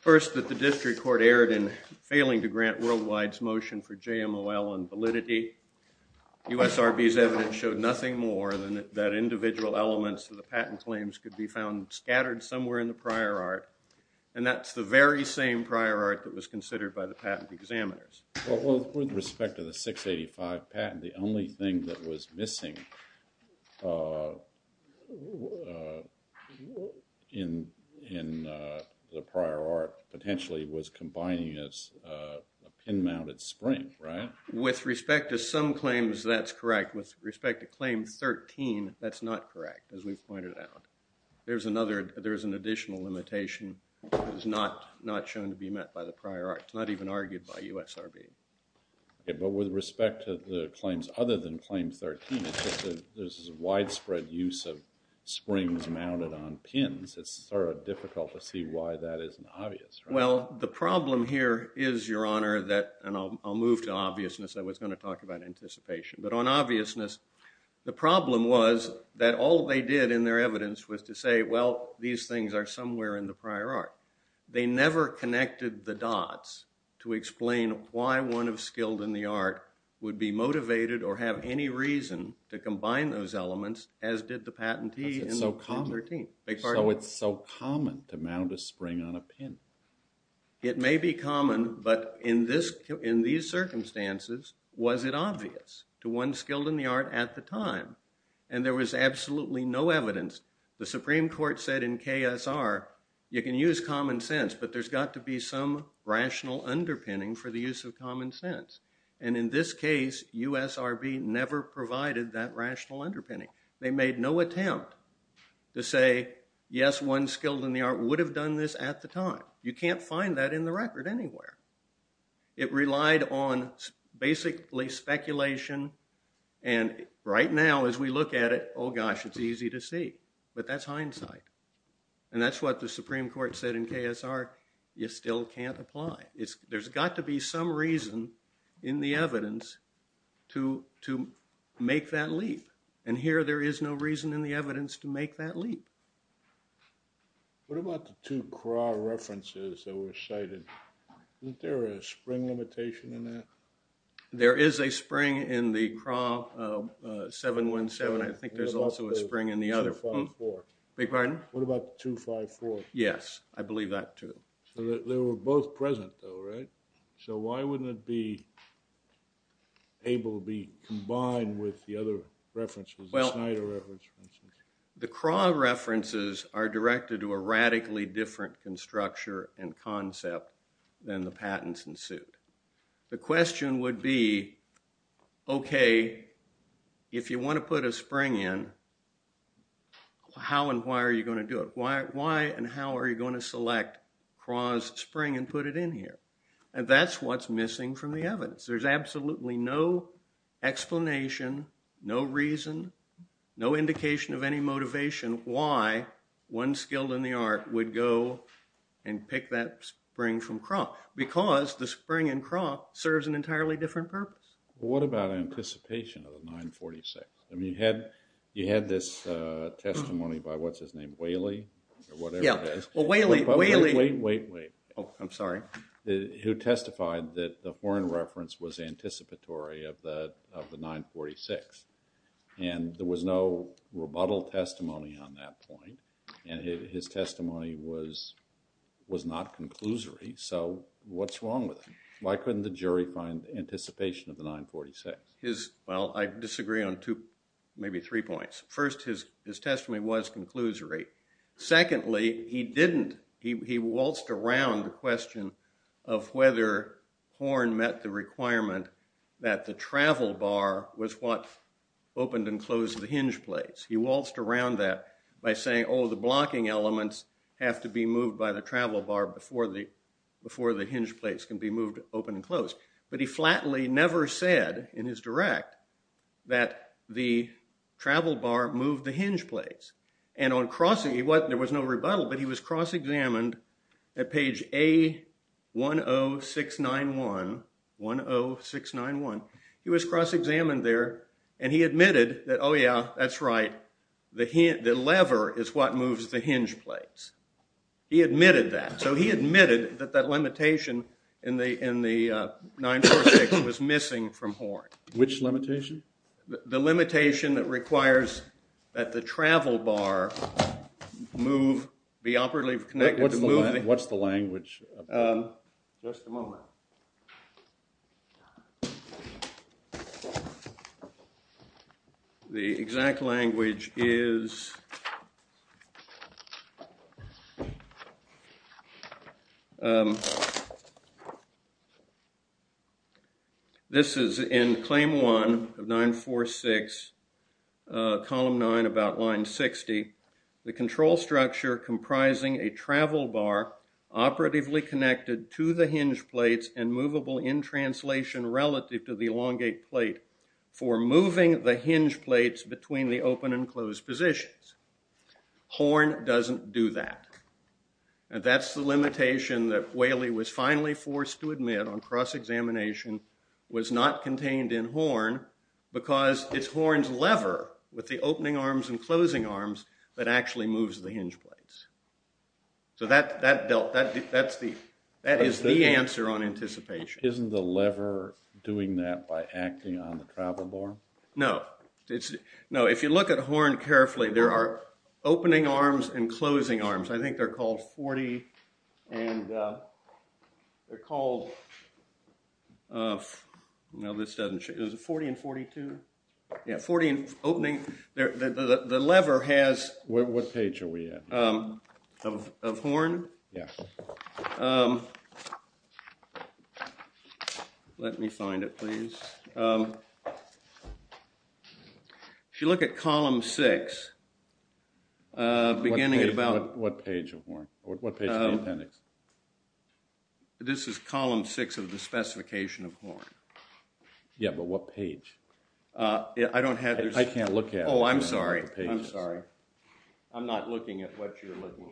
First, that the district court erred in failing to grant Worldwide's motion for JMOL on validity. USRB's evidence showed nothing more than that individual elements of the patent claims could be found scattered somewhere in the prior art, and that's the very same prior art that was considered by the patent examiners. Well, with respect to the 685 patent, the only thing that was missing in the prior art potentially was combining it as a pin-mounted spring, right? With respect to some claims, that's correct. With respect to claim 13, that's not correct, as we've pointed out. There's an additional limitation that is not shown to be met by the prior art. It's not even argued by USRB. Okay, but with respect to the claims other than claim 13, there's this widespread use of springs mounted on pins. It's sort of difficult to see why that isn't obvious, right? Well, the problem here is, Your Honor, and I'll move to obviousness. I was going to talk about anticipation. But on obviousness, the problem was that all they did in their evidence was to say, well, these things are somewhere in the prior art. They never connected the dots to explain why one of skilled in the art would be motivated or have any reason to combine those elements, as did the patentee in 13. So it's so common to mount a spring on a pin. It may be common, but in these circumstances, was it obvious to one skilled in the art at the time? And there was absolutely no evidence. The Supreme Court said in KSR, you can use common sense, but there's got to be some rational underpinning for the use of common sense. And in this case, USRB never provided that rational underpinning. They made no attempt to say, yes, one skilled in the art would have done this at the time. You can't find that in the record anywhere. It relied on basically speculation. And right now, as we look at it, oh, gosh, it's easy to see. But that's hindsight. And that's what the Supreme Court said in KSR. You still can't apply. There's got to be some reason in the evidence to make that leap. And here, there is no reason in the evidence to make that leap. What about the two CRAW references that were cited? Isn't there a spring limitation in that? There is a spring in the CRAW 717. I think there's also a spring in the other one. What about the 254? Beg your pardon? What about the 254? Yes, I believe that, too. So they were both present, though, right? So why wouldn't it be able to be combined with the other references, the Snyder reference, for instance? The CRAW references are directed to a radically different structure and concept than the patents in suit. The question would be, okay, if you want to put a spring in, how and why are you going to do it? Why and how are you going to select CRAW's spring and put it in here? And that's what's missing from the evidence. There's absolutely no explanation, no reason, no indication of any motivation why one skilled in the art would go and pick that spring from CRAW because the spring in CRAW serves an entirely different purpose. What about anticipation of the 946? I mean, you had this testimony by, what's his name, Whaley? Yeah, well, Whaley. Wait, wait, wait. I'm sorry. Who testified that the Horne reference was anticipatory of the 946, and there was no rebuttal testimony on that point, and his testimony was not conclusory. So what's wrong with him? Why couldn't the jury find anticipation of the 946? Well, I disagree on maybe three points. First, his testimony was conclusory. Secondly, he didn't. He waltzed around the question of whether Horne met the requirement that the travel bar was what opened and closed the hinge plates. He waltzed around that by saying, oh, the blocking elements have to be moved by the travel bar before the hinge plates can be moved open and closed. But he flatly never said in his direct that the travel bar moved the hinge plates. There was no rebuttal, but he was cross-examined at page A10691. He was cross-examined there, and he admitted that, oh, yeah, that's right. The lever is what moves the hinge plates. He admitted that. So he admitted that that limitation in the 946 was missing from Horne. Which limitation? The limitation that requires that the travel bar move, be operatively connected to move. What's the language? Just a moment. The exact language is This is in Claim 1 of 946, Column 9, about line 60. The control structure comprising a travel bar operatively connected to the hinge plates and movable in translation relative to the elongate plate for moving the hinge plates between the open and closed positions. Horne doesn't do that. That's the limitation that Whaley was finally forced to admit on cross-examination was not contained in Horne because it's Horne's lever with the opening arms and closing arms that actually moves the hinge plates. So that is the answer on anticipation. Isn't the lever doing that by acting on the travel bar? No. If you look at Horne carefully, there are opening arms and closing arms. I think they're called 40 and 42. The lever has What page are we at? Of Horne? Let me find it, please. If you look at Column 6, beginning at about What page of Horne? This is Column 6 of the specification of Horne. Yeah, but what page? I don't have I can't look at it. Oh, I'm sorry. I'm sorry. I'm not looking at what you're looking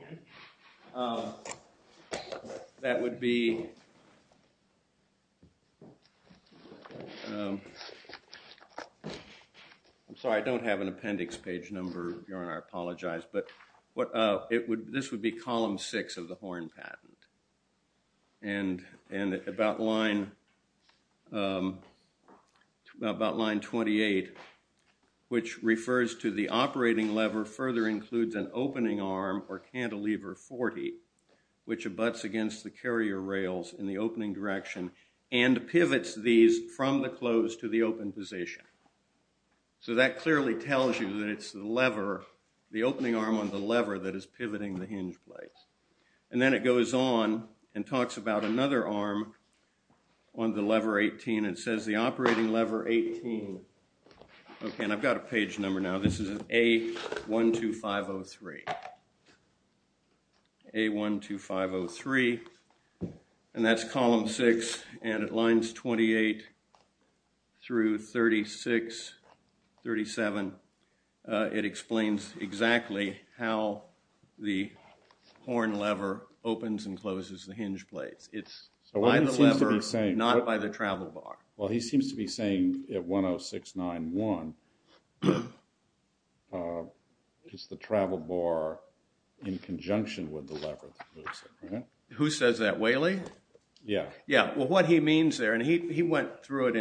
at. That would be I'm sorry, I don't have an appendix page number. I apologize, but this would be Column 6 of the Horne patent. And about line 28, which refers to the operating lever further includes an opening arm or cantilever 40, which abuts against the carrier rails in the opening direction and pivots these from the close to the open position. So that clearly tells you that it's the lever, the opening arm on the lever that is pivoting the hinge plates. And then it goes on and talks about another arm on the lever 18 and it says the operating lever 18. Okay, and I've got a page number now. This is A12503. A12503. And that's Column 6. And it lines 28 through 36, 37. It explains exactly how the Horne lever opens and closes the hinge plates. It's by the lever, not by the travel bar. Well, he seems to be saying at 10691, it's the travel bar in conjunction with the lever that moves it, right? Who says that, Whaley? Yeah. Yeah, well, what he means there, and he went through it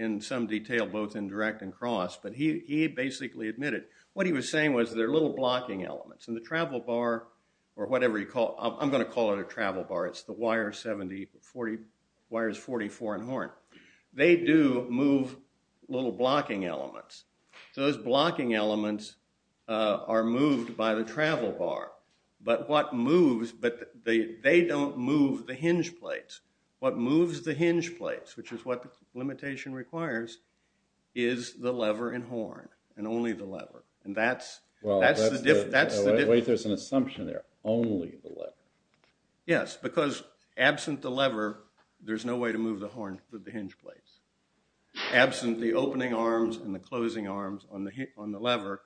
in some detail, both in direct and cross, but he basically admitted what he was saying was there are little blocking elements. And the travel bar, or whatever you call it, I'm going to call it a travel bar. It's the wires 44 in Horne. They do move little blocking elements. Those blocking elements are moved by the travel bar. But what moves, but they don't move the hinge plates. What moves the hinge plates, which is what limitation requires, is the lever in Horne and only the lever. And that's the difference. Wait, there's an assumption there, only the lever. Yes, because absent the lever, there's no way to move the Horne with the hinge plates. Absent the opening arms and the closing arms on the lever,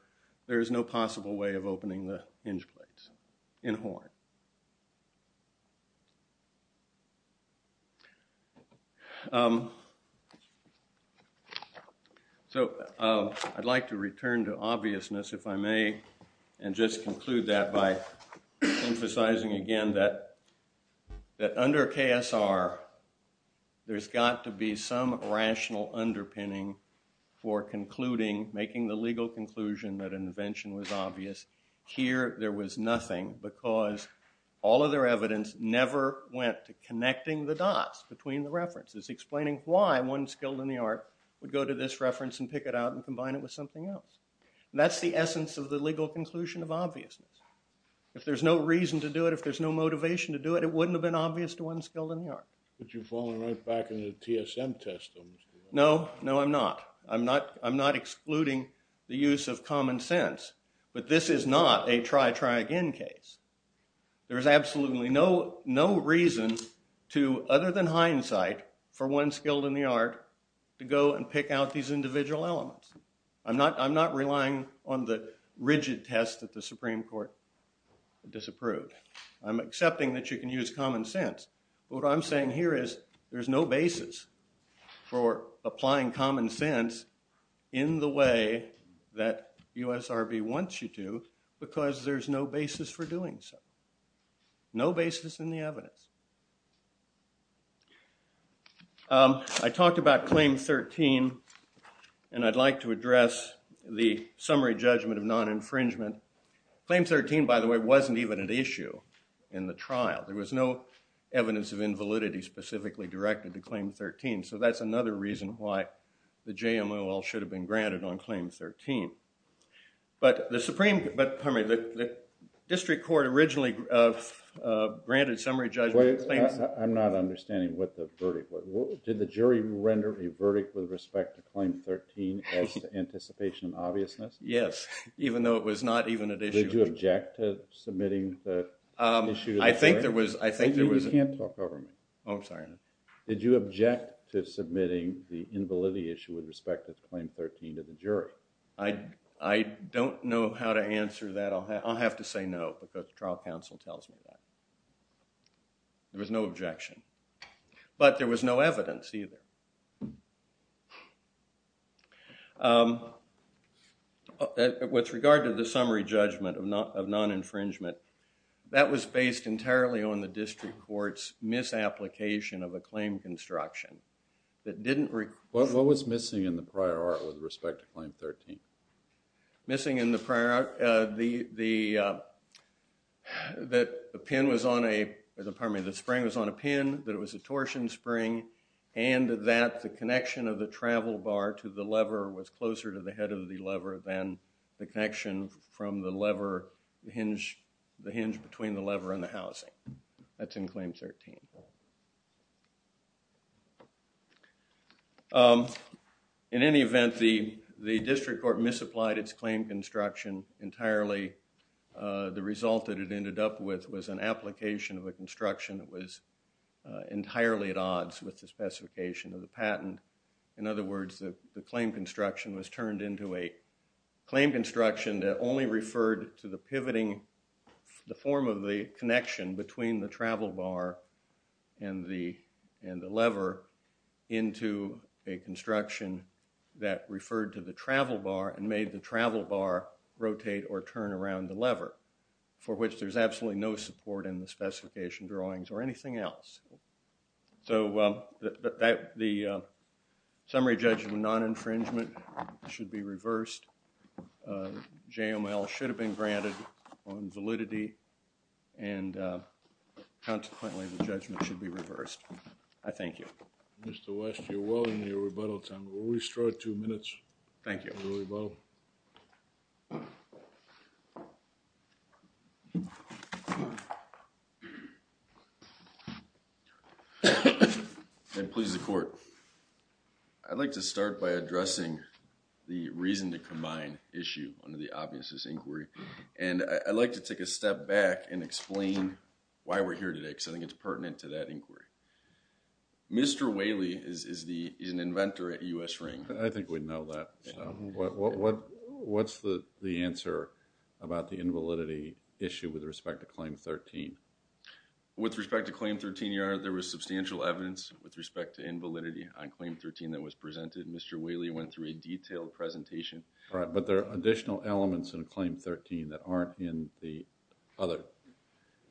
there is no possible way of opening the hinge plates in Horne. So I'd like to return to obviousness, if I may, and just conclude that by emphasizing again that under KSR, there's got to be some rational underpinning for concluding, making the legal conclusion that an invention was obvious. Here, there was nothing because all of their evidence never went to connecting the dots between the references, explaining why one skilled in the art would go to this reference and pick it out and combine it with something else. That's the essence of the legal conclusion of obviousness. If there's no reason to do it, if there's no motivation to do it, it wouldn't have been obvious to one skilled in the art. But you've fallen right back into the TSM test. No, no, I'm not. I'm not excluding the use of common sense, but this is not a try, try again case. There is absolutely no reason to, other than hindsight, for one skilled in the art to go and pick out these individual elements. I'm not relying on the rigid test that the Supreme Court disapproved. I'm accepting that you can use common sense, but what I'm saying here is there's no basis for applying common sense in the way that USRB wants you to because there's no basis for doing so. No basis in the evidence. I talked about Claim 13, and I'd like to address the summary judgment of non-infringement. Claim 13, by the way, wasn't even an issue in the trial. There was no evidence of invalidity specifically directed to Claim 13, so that's another reason why the JMOL should have been granted on Claim 13. But the Supreme, pardon me, the District Court originally granted summary judgment I'm not understanding what the verdict was. Did the jury render a verdict with respect to Claim 13 as to anticipation of obviousness? Yes, even though it was not even an issue. Did you object to submitting the issue to the jury? I think there was... You can't talk over me. Oh, I'm sorry. Did you object to submitting the invalidity issue with respect to Claim 13 to the jury? I don't know how to answer that. I'll have to say no because trial counsel tells me that. There was no objection. But there was no evidence either. With regard to the summary judgment of non-infringement, that was based entirely on the District Court's misapplication of a claim construction that didn't... What was missing in the prior art with respect to Claim 13? Missing in the prior... That the pin was on a... Pardon me, the spring was on a pin, that it was a torsion spring, and that the connection of the travel bar to the lever was closer to the head of the lever than the connection from the lever, the hinge between the lever and the housing. That's in Claim 13. Okay. In any event, the District Court misapplied its claim construction entirely. The result that it ended up with was an application of a construction that was entirely at odds with the specification of the patent. In other words, the claim construction was turned into a claim construction that only referred to the pivoting... of the connection between the travel bar and the lever into a construction that referred to the travel bar and made the travel bar rotate or turn around the lever, for which there's absolutely no support in the specification drawings or anything else. So the summary judgment of non-infringement should be reversed. JML should have been granted on validity, and, consequently, the judgment should be reversed. I thank you. Mr. West, you're well into your rebuttal time. We'll restore two minutes. Thank you. And please, the Court. I'd like to start by addressing the reason to combine issue under the obviousness inquiry, and I'd like to take a step back and explain why we're here today because I think it's pertinent to that inquiry. Mr. Whaley is an inventor at U.S. Ring. I think we know that. What's the answer about the invalidity issue with respect to Claim 13? With respect to Claim 13, Your Honor, we know that there was substantial evidence with respect to invalidity on Claim 13 that was presented. Mr. Whaley went through a detailed presentation. Right, but there are additional elements in Claim 13 that aren't in the other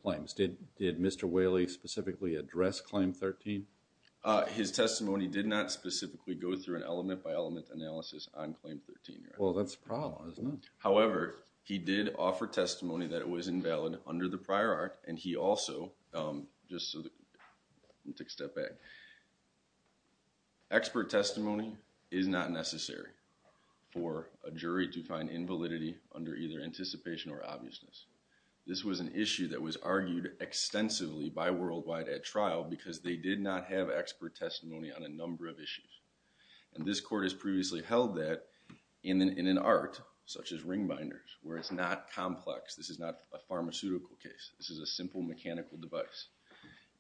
claims. Did Mr. Whaley specifically address Claim 13? His testimony did not specifically go through an element-by-element analysis on Claim 13, Your Honor. Well, that's the problem, isn't it? However, he did offer testimony that it was invalid under the prior art, and he also, just so that... Let me take a step back. Expert testimony is not necessary for a jury to find invalidity under either anticipation or obviousness. This was an issue that was argued extensively by Worldwide at trial because they did not have expert testimony on a number of issues, and this Court has previously held that in an art such as ring binders, where it's not complex. This is not a pharmaceutical case. This is a simple mechanical device.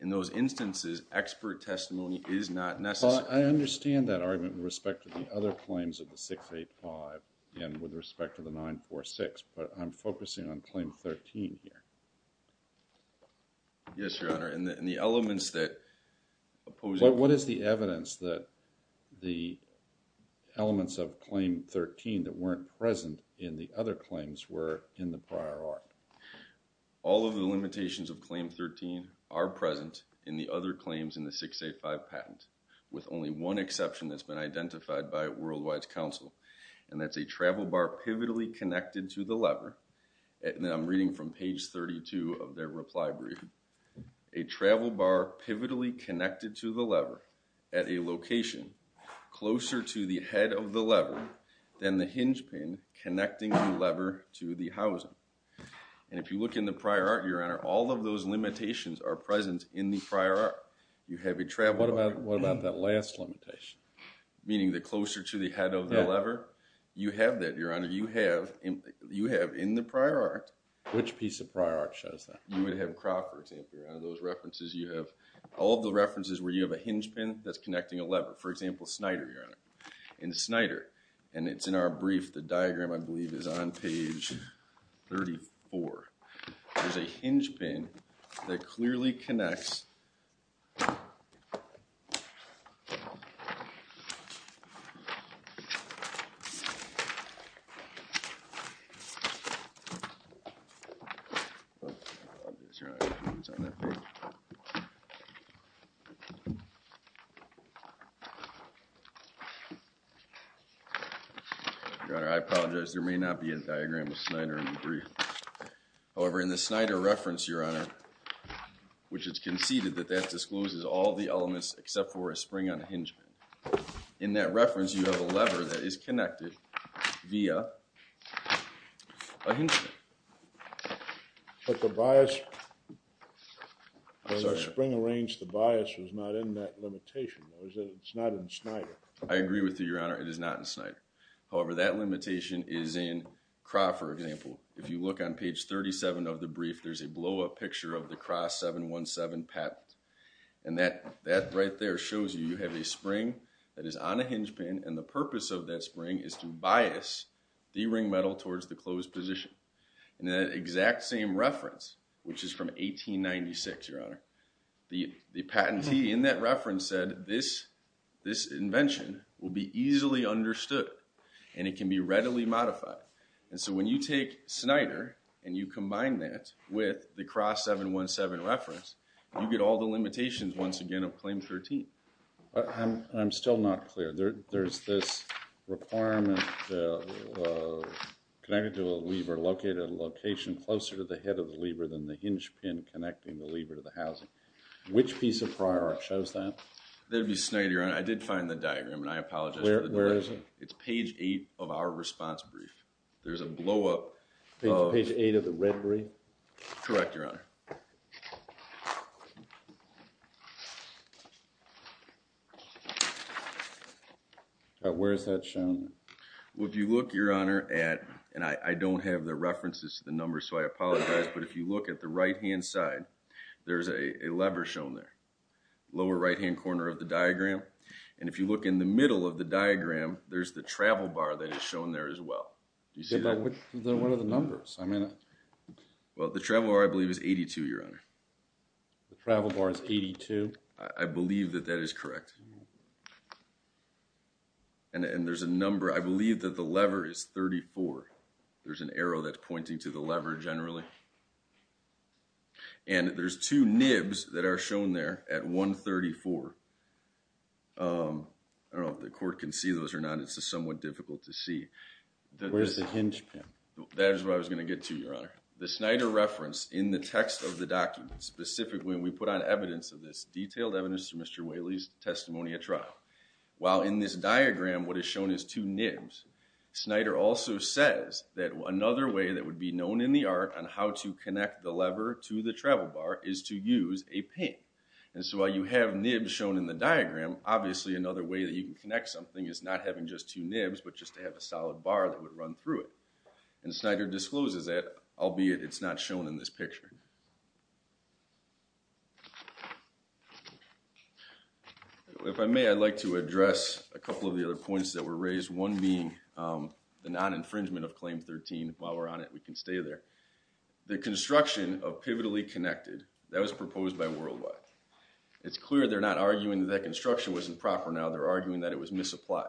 In those instances, expert testimony is not necessary. Well, I understand that argument with respect to the other claims of the 685 and with respect to the 946, but I'm focusing on Claim 13 here. Yes, Your Honor, and the elements that oppose... What is the evidence that the elements of Claim 13 that weren't present in the other claims were in the prior art? All of the limitations of Claim 13 are present in the other claims in the 685 patent, with only one exception that's been identified by Worldwide's counsel, and that's a travel bar pivotally connected to the lever. And I'm reading from page 32 of their reply brief. A travel bar pivotally connected to the lever at a location closer to the head of the lever than the hinge pin connecting the lever to the housing. And if you look in the prior art, Your Honor, all of those limitations are present in the prior art. You have a travel bar... What about that last limitation? Meaning the closer to the head of the lever? You have that, Your Honor. You have in the prior art... Which piece of prior art shows that? You would have Craw, for example, Your Honor. Those references, you have all the references where you have a hinge pin that's connecting a lever. For example, Snyder, Your Honor. In Snyder, and it's in our brief. The diagram, I believe, is on page 34. There's a hinge pin that clearly connects... It's on that page. Your Honor, I apologize. There may not be a diagram of Snyder in the brief. However, in the Snyder reference, Your Honor, which it's conceded that that discloses all the elements except for a spring on a hinge pin. In that reference, you have a lever that is connected via a hinge pin. But the bias... I'm sorry, Your Honor. The spring arranged, the bias was not in that limitation. It's not in Snyder. I agree with you, Your Honor. It is not in Snyder. However, that limitation is in Craw, for example. If you look on page 37 of the brief, there's a blow-up picture of the Craw 717 patent. And that right there shows you you have a spring that is on a hinge pin, and the purpose of that spring is to bias the ring metal towards the closed position. In that exact same reference, which is from 1896, Your Honor, the patentee in that reference said, this invention will be easily understood, and it can be readily modified. And so when you take Snyder, and you combine that with the Craw 717 reference, you get all the limitations, once again, of Claim 13. I'm still not clear. There's this requirement connected to a lever located at a location closer to the head of the lever than the hinge pin connecting the lever to the housing. Which piece of prior art shows that? That would be Snyder, Your Honor. I did find the diagram, and I apologize for the delay. Where is it? It's page 8 of our response brief. There's a blow-up of... Page 8 of the red brief? Correct, Your Honor. Where is that shown? Well, if you look, Your Honor, at... And I don't have the references to the numbers, so I apologize. But if you look at the right-hand side, there's a lever shown there, lower right-hand corner of the diagram. And if you look in the middle of the diagram, there's the travel bar that is shown there as well. Do you see that? What are the numbers? I mean... Well, the travel bar, I believe, is 88. 82, Your Honor. The travel bar is 82? I believe that that is correct. And there's a number... I believe that the lever is 34. There's an arrow that's pointing to the lever generally. And there's two nibs that are shown there at 134. I don't know if the court can see those or not. It's just somewhat difficult to see. Where's the hinge pin? That is what I was going to get to, Your Honor. The Snyder reference in the text of the document, specifically when we put on evidence of this, detailed evidence of Mr. Whaley's testimony at trial, while in this diagram what is shown is two nibs, Snyder also says that another way that would be known in the art on how to connect the lever to the travel bar is to use a pin. And so while you have nibs shown in the diagram, obviously another way that you can connect something is not having just two nibs, but just to have a solid bar that would run through it. And Snyder discloses that, albeit it's not shown in this picture. If I may, I'd like to address a couple of the other points that were raised, one being the non-infringement of Claim 13. While we're on it, we can stay there. The construction of pivotally connected, that was proposed by Worldwide. It's clear they're not arguing that that construction wasn't proper now, they're arguing that it was misapplied.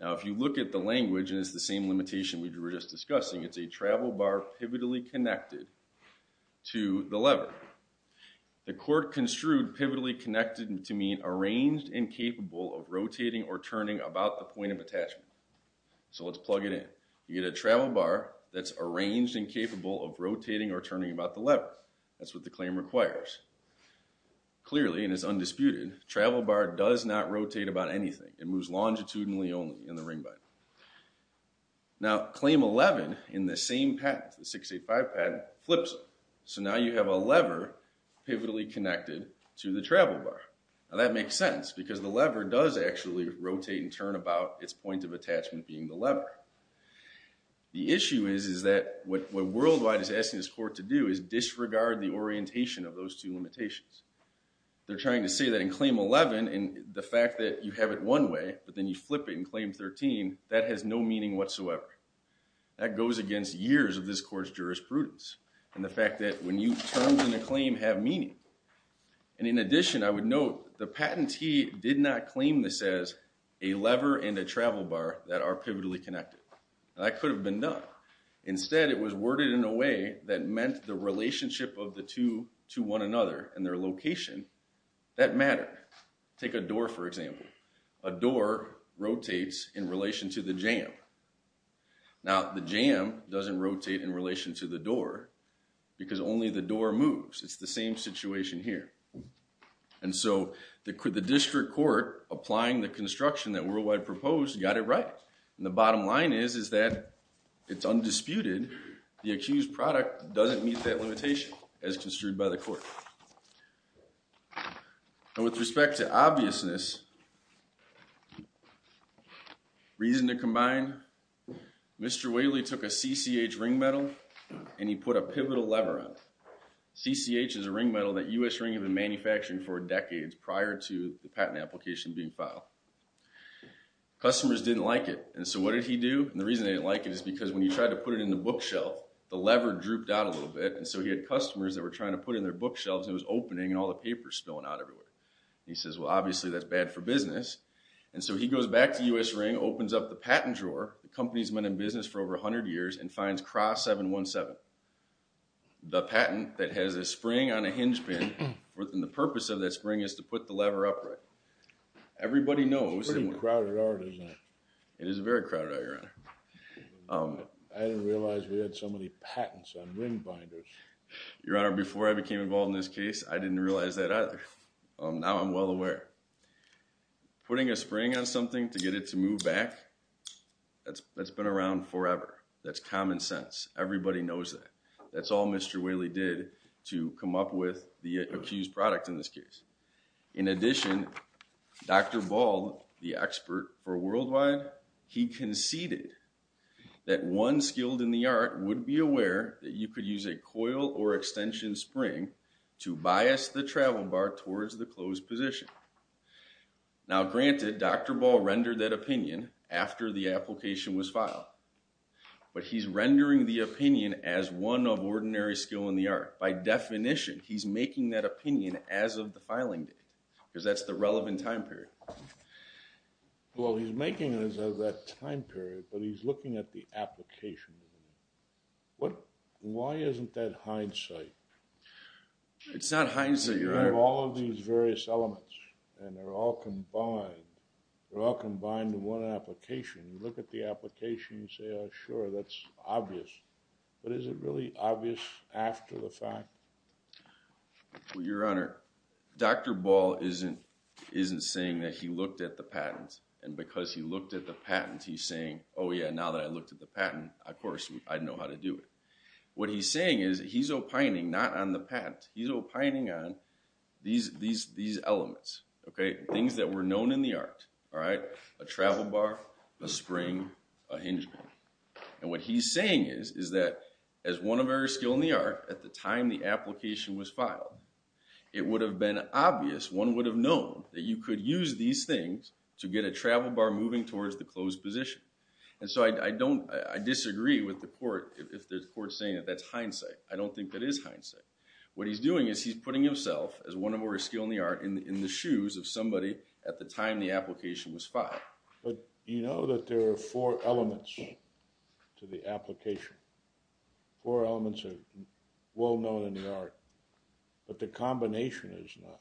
Now if you look at the language, and it's the same limitation we were just discussing, it's a travel bar pivotally connected to the lever. The court construed pivotally connected to mean arranged and capable of rotating or turning about the point of attachment. So let's plug it in. You get a travel bar that's arranged and capable of rotating or turning about the lever. That's what the claim requires. Clearly, and it's undisputed, travel bar does not rotate about anything. It moves longitudinally only in the ring bind. Now Claim 11 in the same patent, the 685 patent, flips it. So now you have a lever pivotally connected to the travel bar. Now that makes sense because the lever does actually rotate and turn about its point of attachment being the lever. The issue is that what Worldwide is asking this court to do is disregard the orientation of those two limitations. They're trying to say that in Claim 11, the fact that you have it one way but then you flip it in Claim 13, that has no meaning whatsoever. That goes against years of this court's jurisprudence and the fact that when you turn in a claim, have meaning. In addition, I would note the patentee did not claim this as a lever and a travel bar that are pivotally connected. That could have been done. Instead, it was worded in a way that meant the relationship of the two to one another and their location, that matter. Take a door, for example. A door rotates in relation to the jam. Now the jam doesn't rotate in relation to the door because only the door moves. It's the same situation here. And so the district court, applying the construction that Worldwide proposed, got it right. And the bottom line is that it's undisputed the accused product doesn't meet that limitation as construed by the court. And with respect to obviousness, reason to combine, Mr. Whaley took a CCH ring medal and he put a pivotal lever on it. CCH is a ring medal that U.S. Ring had been manufacturing for decades prior to the patent application being filed. Customers didn't like it. And so what did he do? And the reason they didn't like it is because when he tried to put it in the bookshelf, the lever drooped out a little bit. And so he had customers that were trying to put it in their bookshelves and it was opening and all the paper was spilling out everywhere. And he says, well, obviously that's bad for business. And so he goes back to U.S. Ring, opens up the patent drawer, the company's been in business for over 100 years, and finds CRA 717, the patent that has a spring on a hinge pin. And the purpose of that spring is to put the lever upright. Everybody knows. It's a pretty crowded art, isn't it? It is a very crowded art, Your Honor. I didn't realize we had so many patents on ring binders. Your Honor, before I became involved in this case, I didn't realize that either. Now I'm well aware. Putting a spring on something to get it to move back, that's been around forever. That's common sense. Everybody knows that. That's all Mr. Whaley did to come up with the accused product in this case. In addition, Dr. Ball, the expert for Worldwide, he conceded that one skilled in the art would be aware that you could use a coil or extension spring to bias the travel bar towards the closed position. Now, granted, Dr. Ball rendered that opinion after the application was filed. But he's rendering the opinion as one of ordinary skill in the art. By definition, he's making that opinion as of the filing date because that's the relevant time period. Well, he's making it as of that time period, but he's looking at the application. Why isn't that hindsight? It's not hindsight, Your Honor. You have all of these various elements, and they're all combined. They're all combined in one application. You look at the application, you say, sure, that's obvious. But is it really obvious after the fact? Well, Your Honor, Dr. Ball isn't saying that he looked at the patent, and because he looked at the patent, he's saying, oh, yeah, now that I looked at the patent, of course I know how to do it. What he's saying is he's opining not on the patent. He's opining on these elements, things that were known in the art, a travel bar, a spring, a hinge bar. And what he's saying is that as one of our skill in the art, at the time the application was filed, it would have been obvious, one would have known that you could use these things to get a travel bar moving towards the closed position. And so I disagree with the court if the court's saying that that's hindsight. I don't think that is hindsight. What he's doing is he's putting himself, as one of our skill in the art, in the shoes of somebody at the time the application was filed. But you know that there are four elements to the application. Four elements are well known in the art. But the combination is not.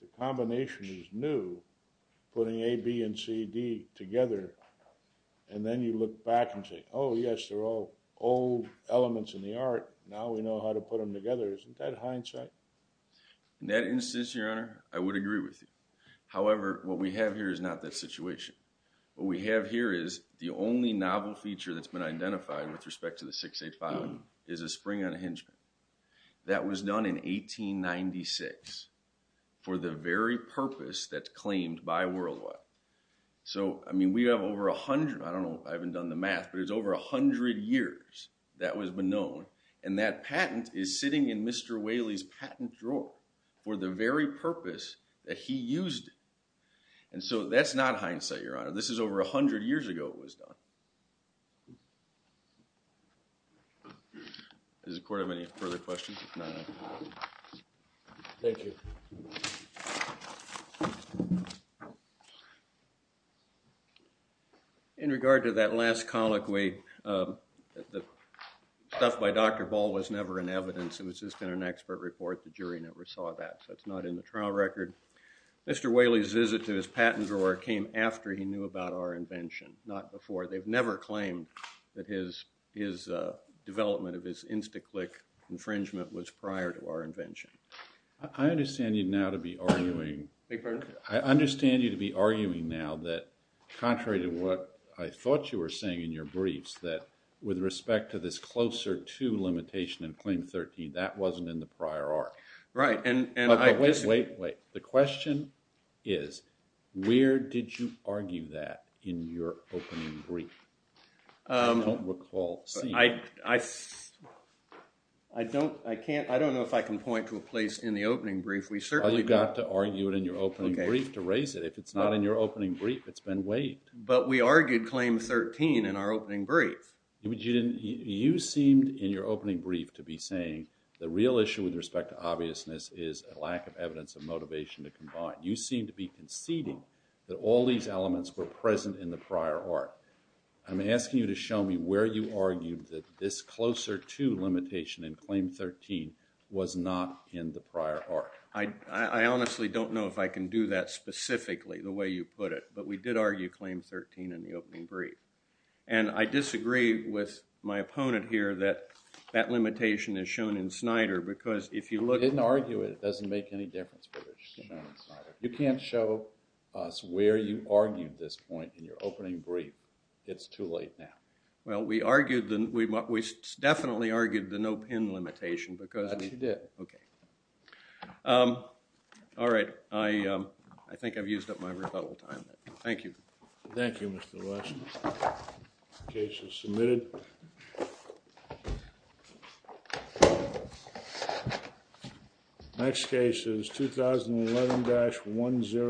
The combination is new, putting A, B, and C, D together, and then you look back and say, oh, yes, they're all old elements in the art. Now we know how to put them together. Isn't that hindsight? In that instance, Your Honor, I would agree with you. However, what we have here is not that situation. What we have here is the only novel feature that's been identified with respect to the 685 is a spring unhingement. That was done in 1896 for the very purpose that's claimed by Worldwide. So, I mean, we have over a hundred, I don't know, I haven't done the math, but it's over a hundred years that was known, and that patent is sitting in Mr. Whaley's patent drawer for the very purpose that he used it. And so that's not hindsight, Your Honor. This is over a hundred years ago it was done. Does the court have any further questions? Thank you. In regard to that last colloquy, the stuff by Dr. Ball was never in evidence. It was just in an expert report. The jury never saw that, so it's not in the trial record. Mr. Whaley's visit to his patent drawer came after he knew about our invention, not before. They've never claimed that his development of his Instaclick infringement was prior to our invention. I understand you now to be arguing that, contrary to what I thought you were saying in your briefs, that with respect to this closer to limitation in Claim 13, that wasn't in the prior arc. Right. Wait, wait. The question is where did you argue that in your opening brief? I don't recall seeing it. I don't know if I can point to a place in the opening brief. Well, you've got to argue it in your opening brief to raise it. If it's not in your opening brief, it's been waived. But we argued Claim 13 in our opening brief. You seemed in your opening brief to be saying the real issue with respect to obviousness is a lack of evidence of motivation to combine. You seem to be conceding that all these elements were present in the prior arc. I'm asking you to show me where you argued that this closer to limitation in Claim 13 was not in the prior arc. I honestly don't know if I can do that specifically the way you put it, but we did argue Claim 13 in the opening brief. And I disagree with my opponent here that that limitation is shown in Snyder because if you look... We didn't argue it. It doesn't make any difference whether it's shown in Snyder. You can't show us where you argued this point in your opening brief. It's too late now. Well, we argued the... We definitely argued the no-pin limitation because... Yes, you did. Okay. All right. I think I've used up my rebuttal time. Thank you. Thank you, Mr. West. Case is submitted. Next case is 2011-10.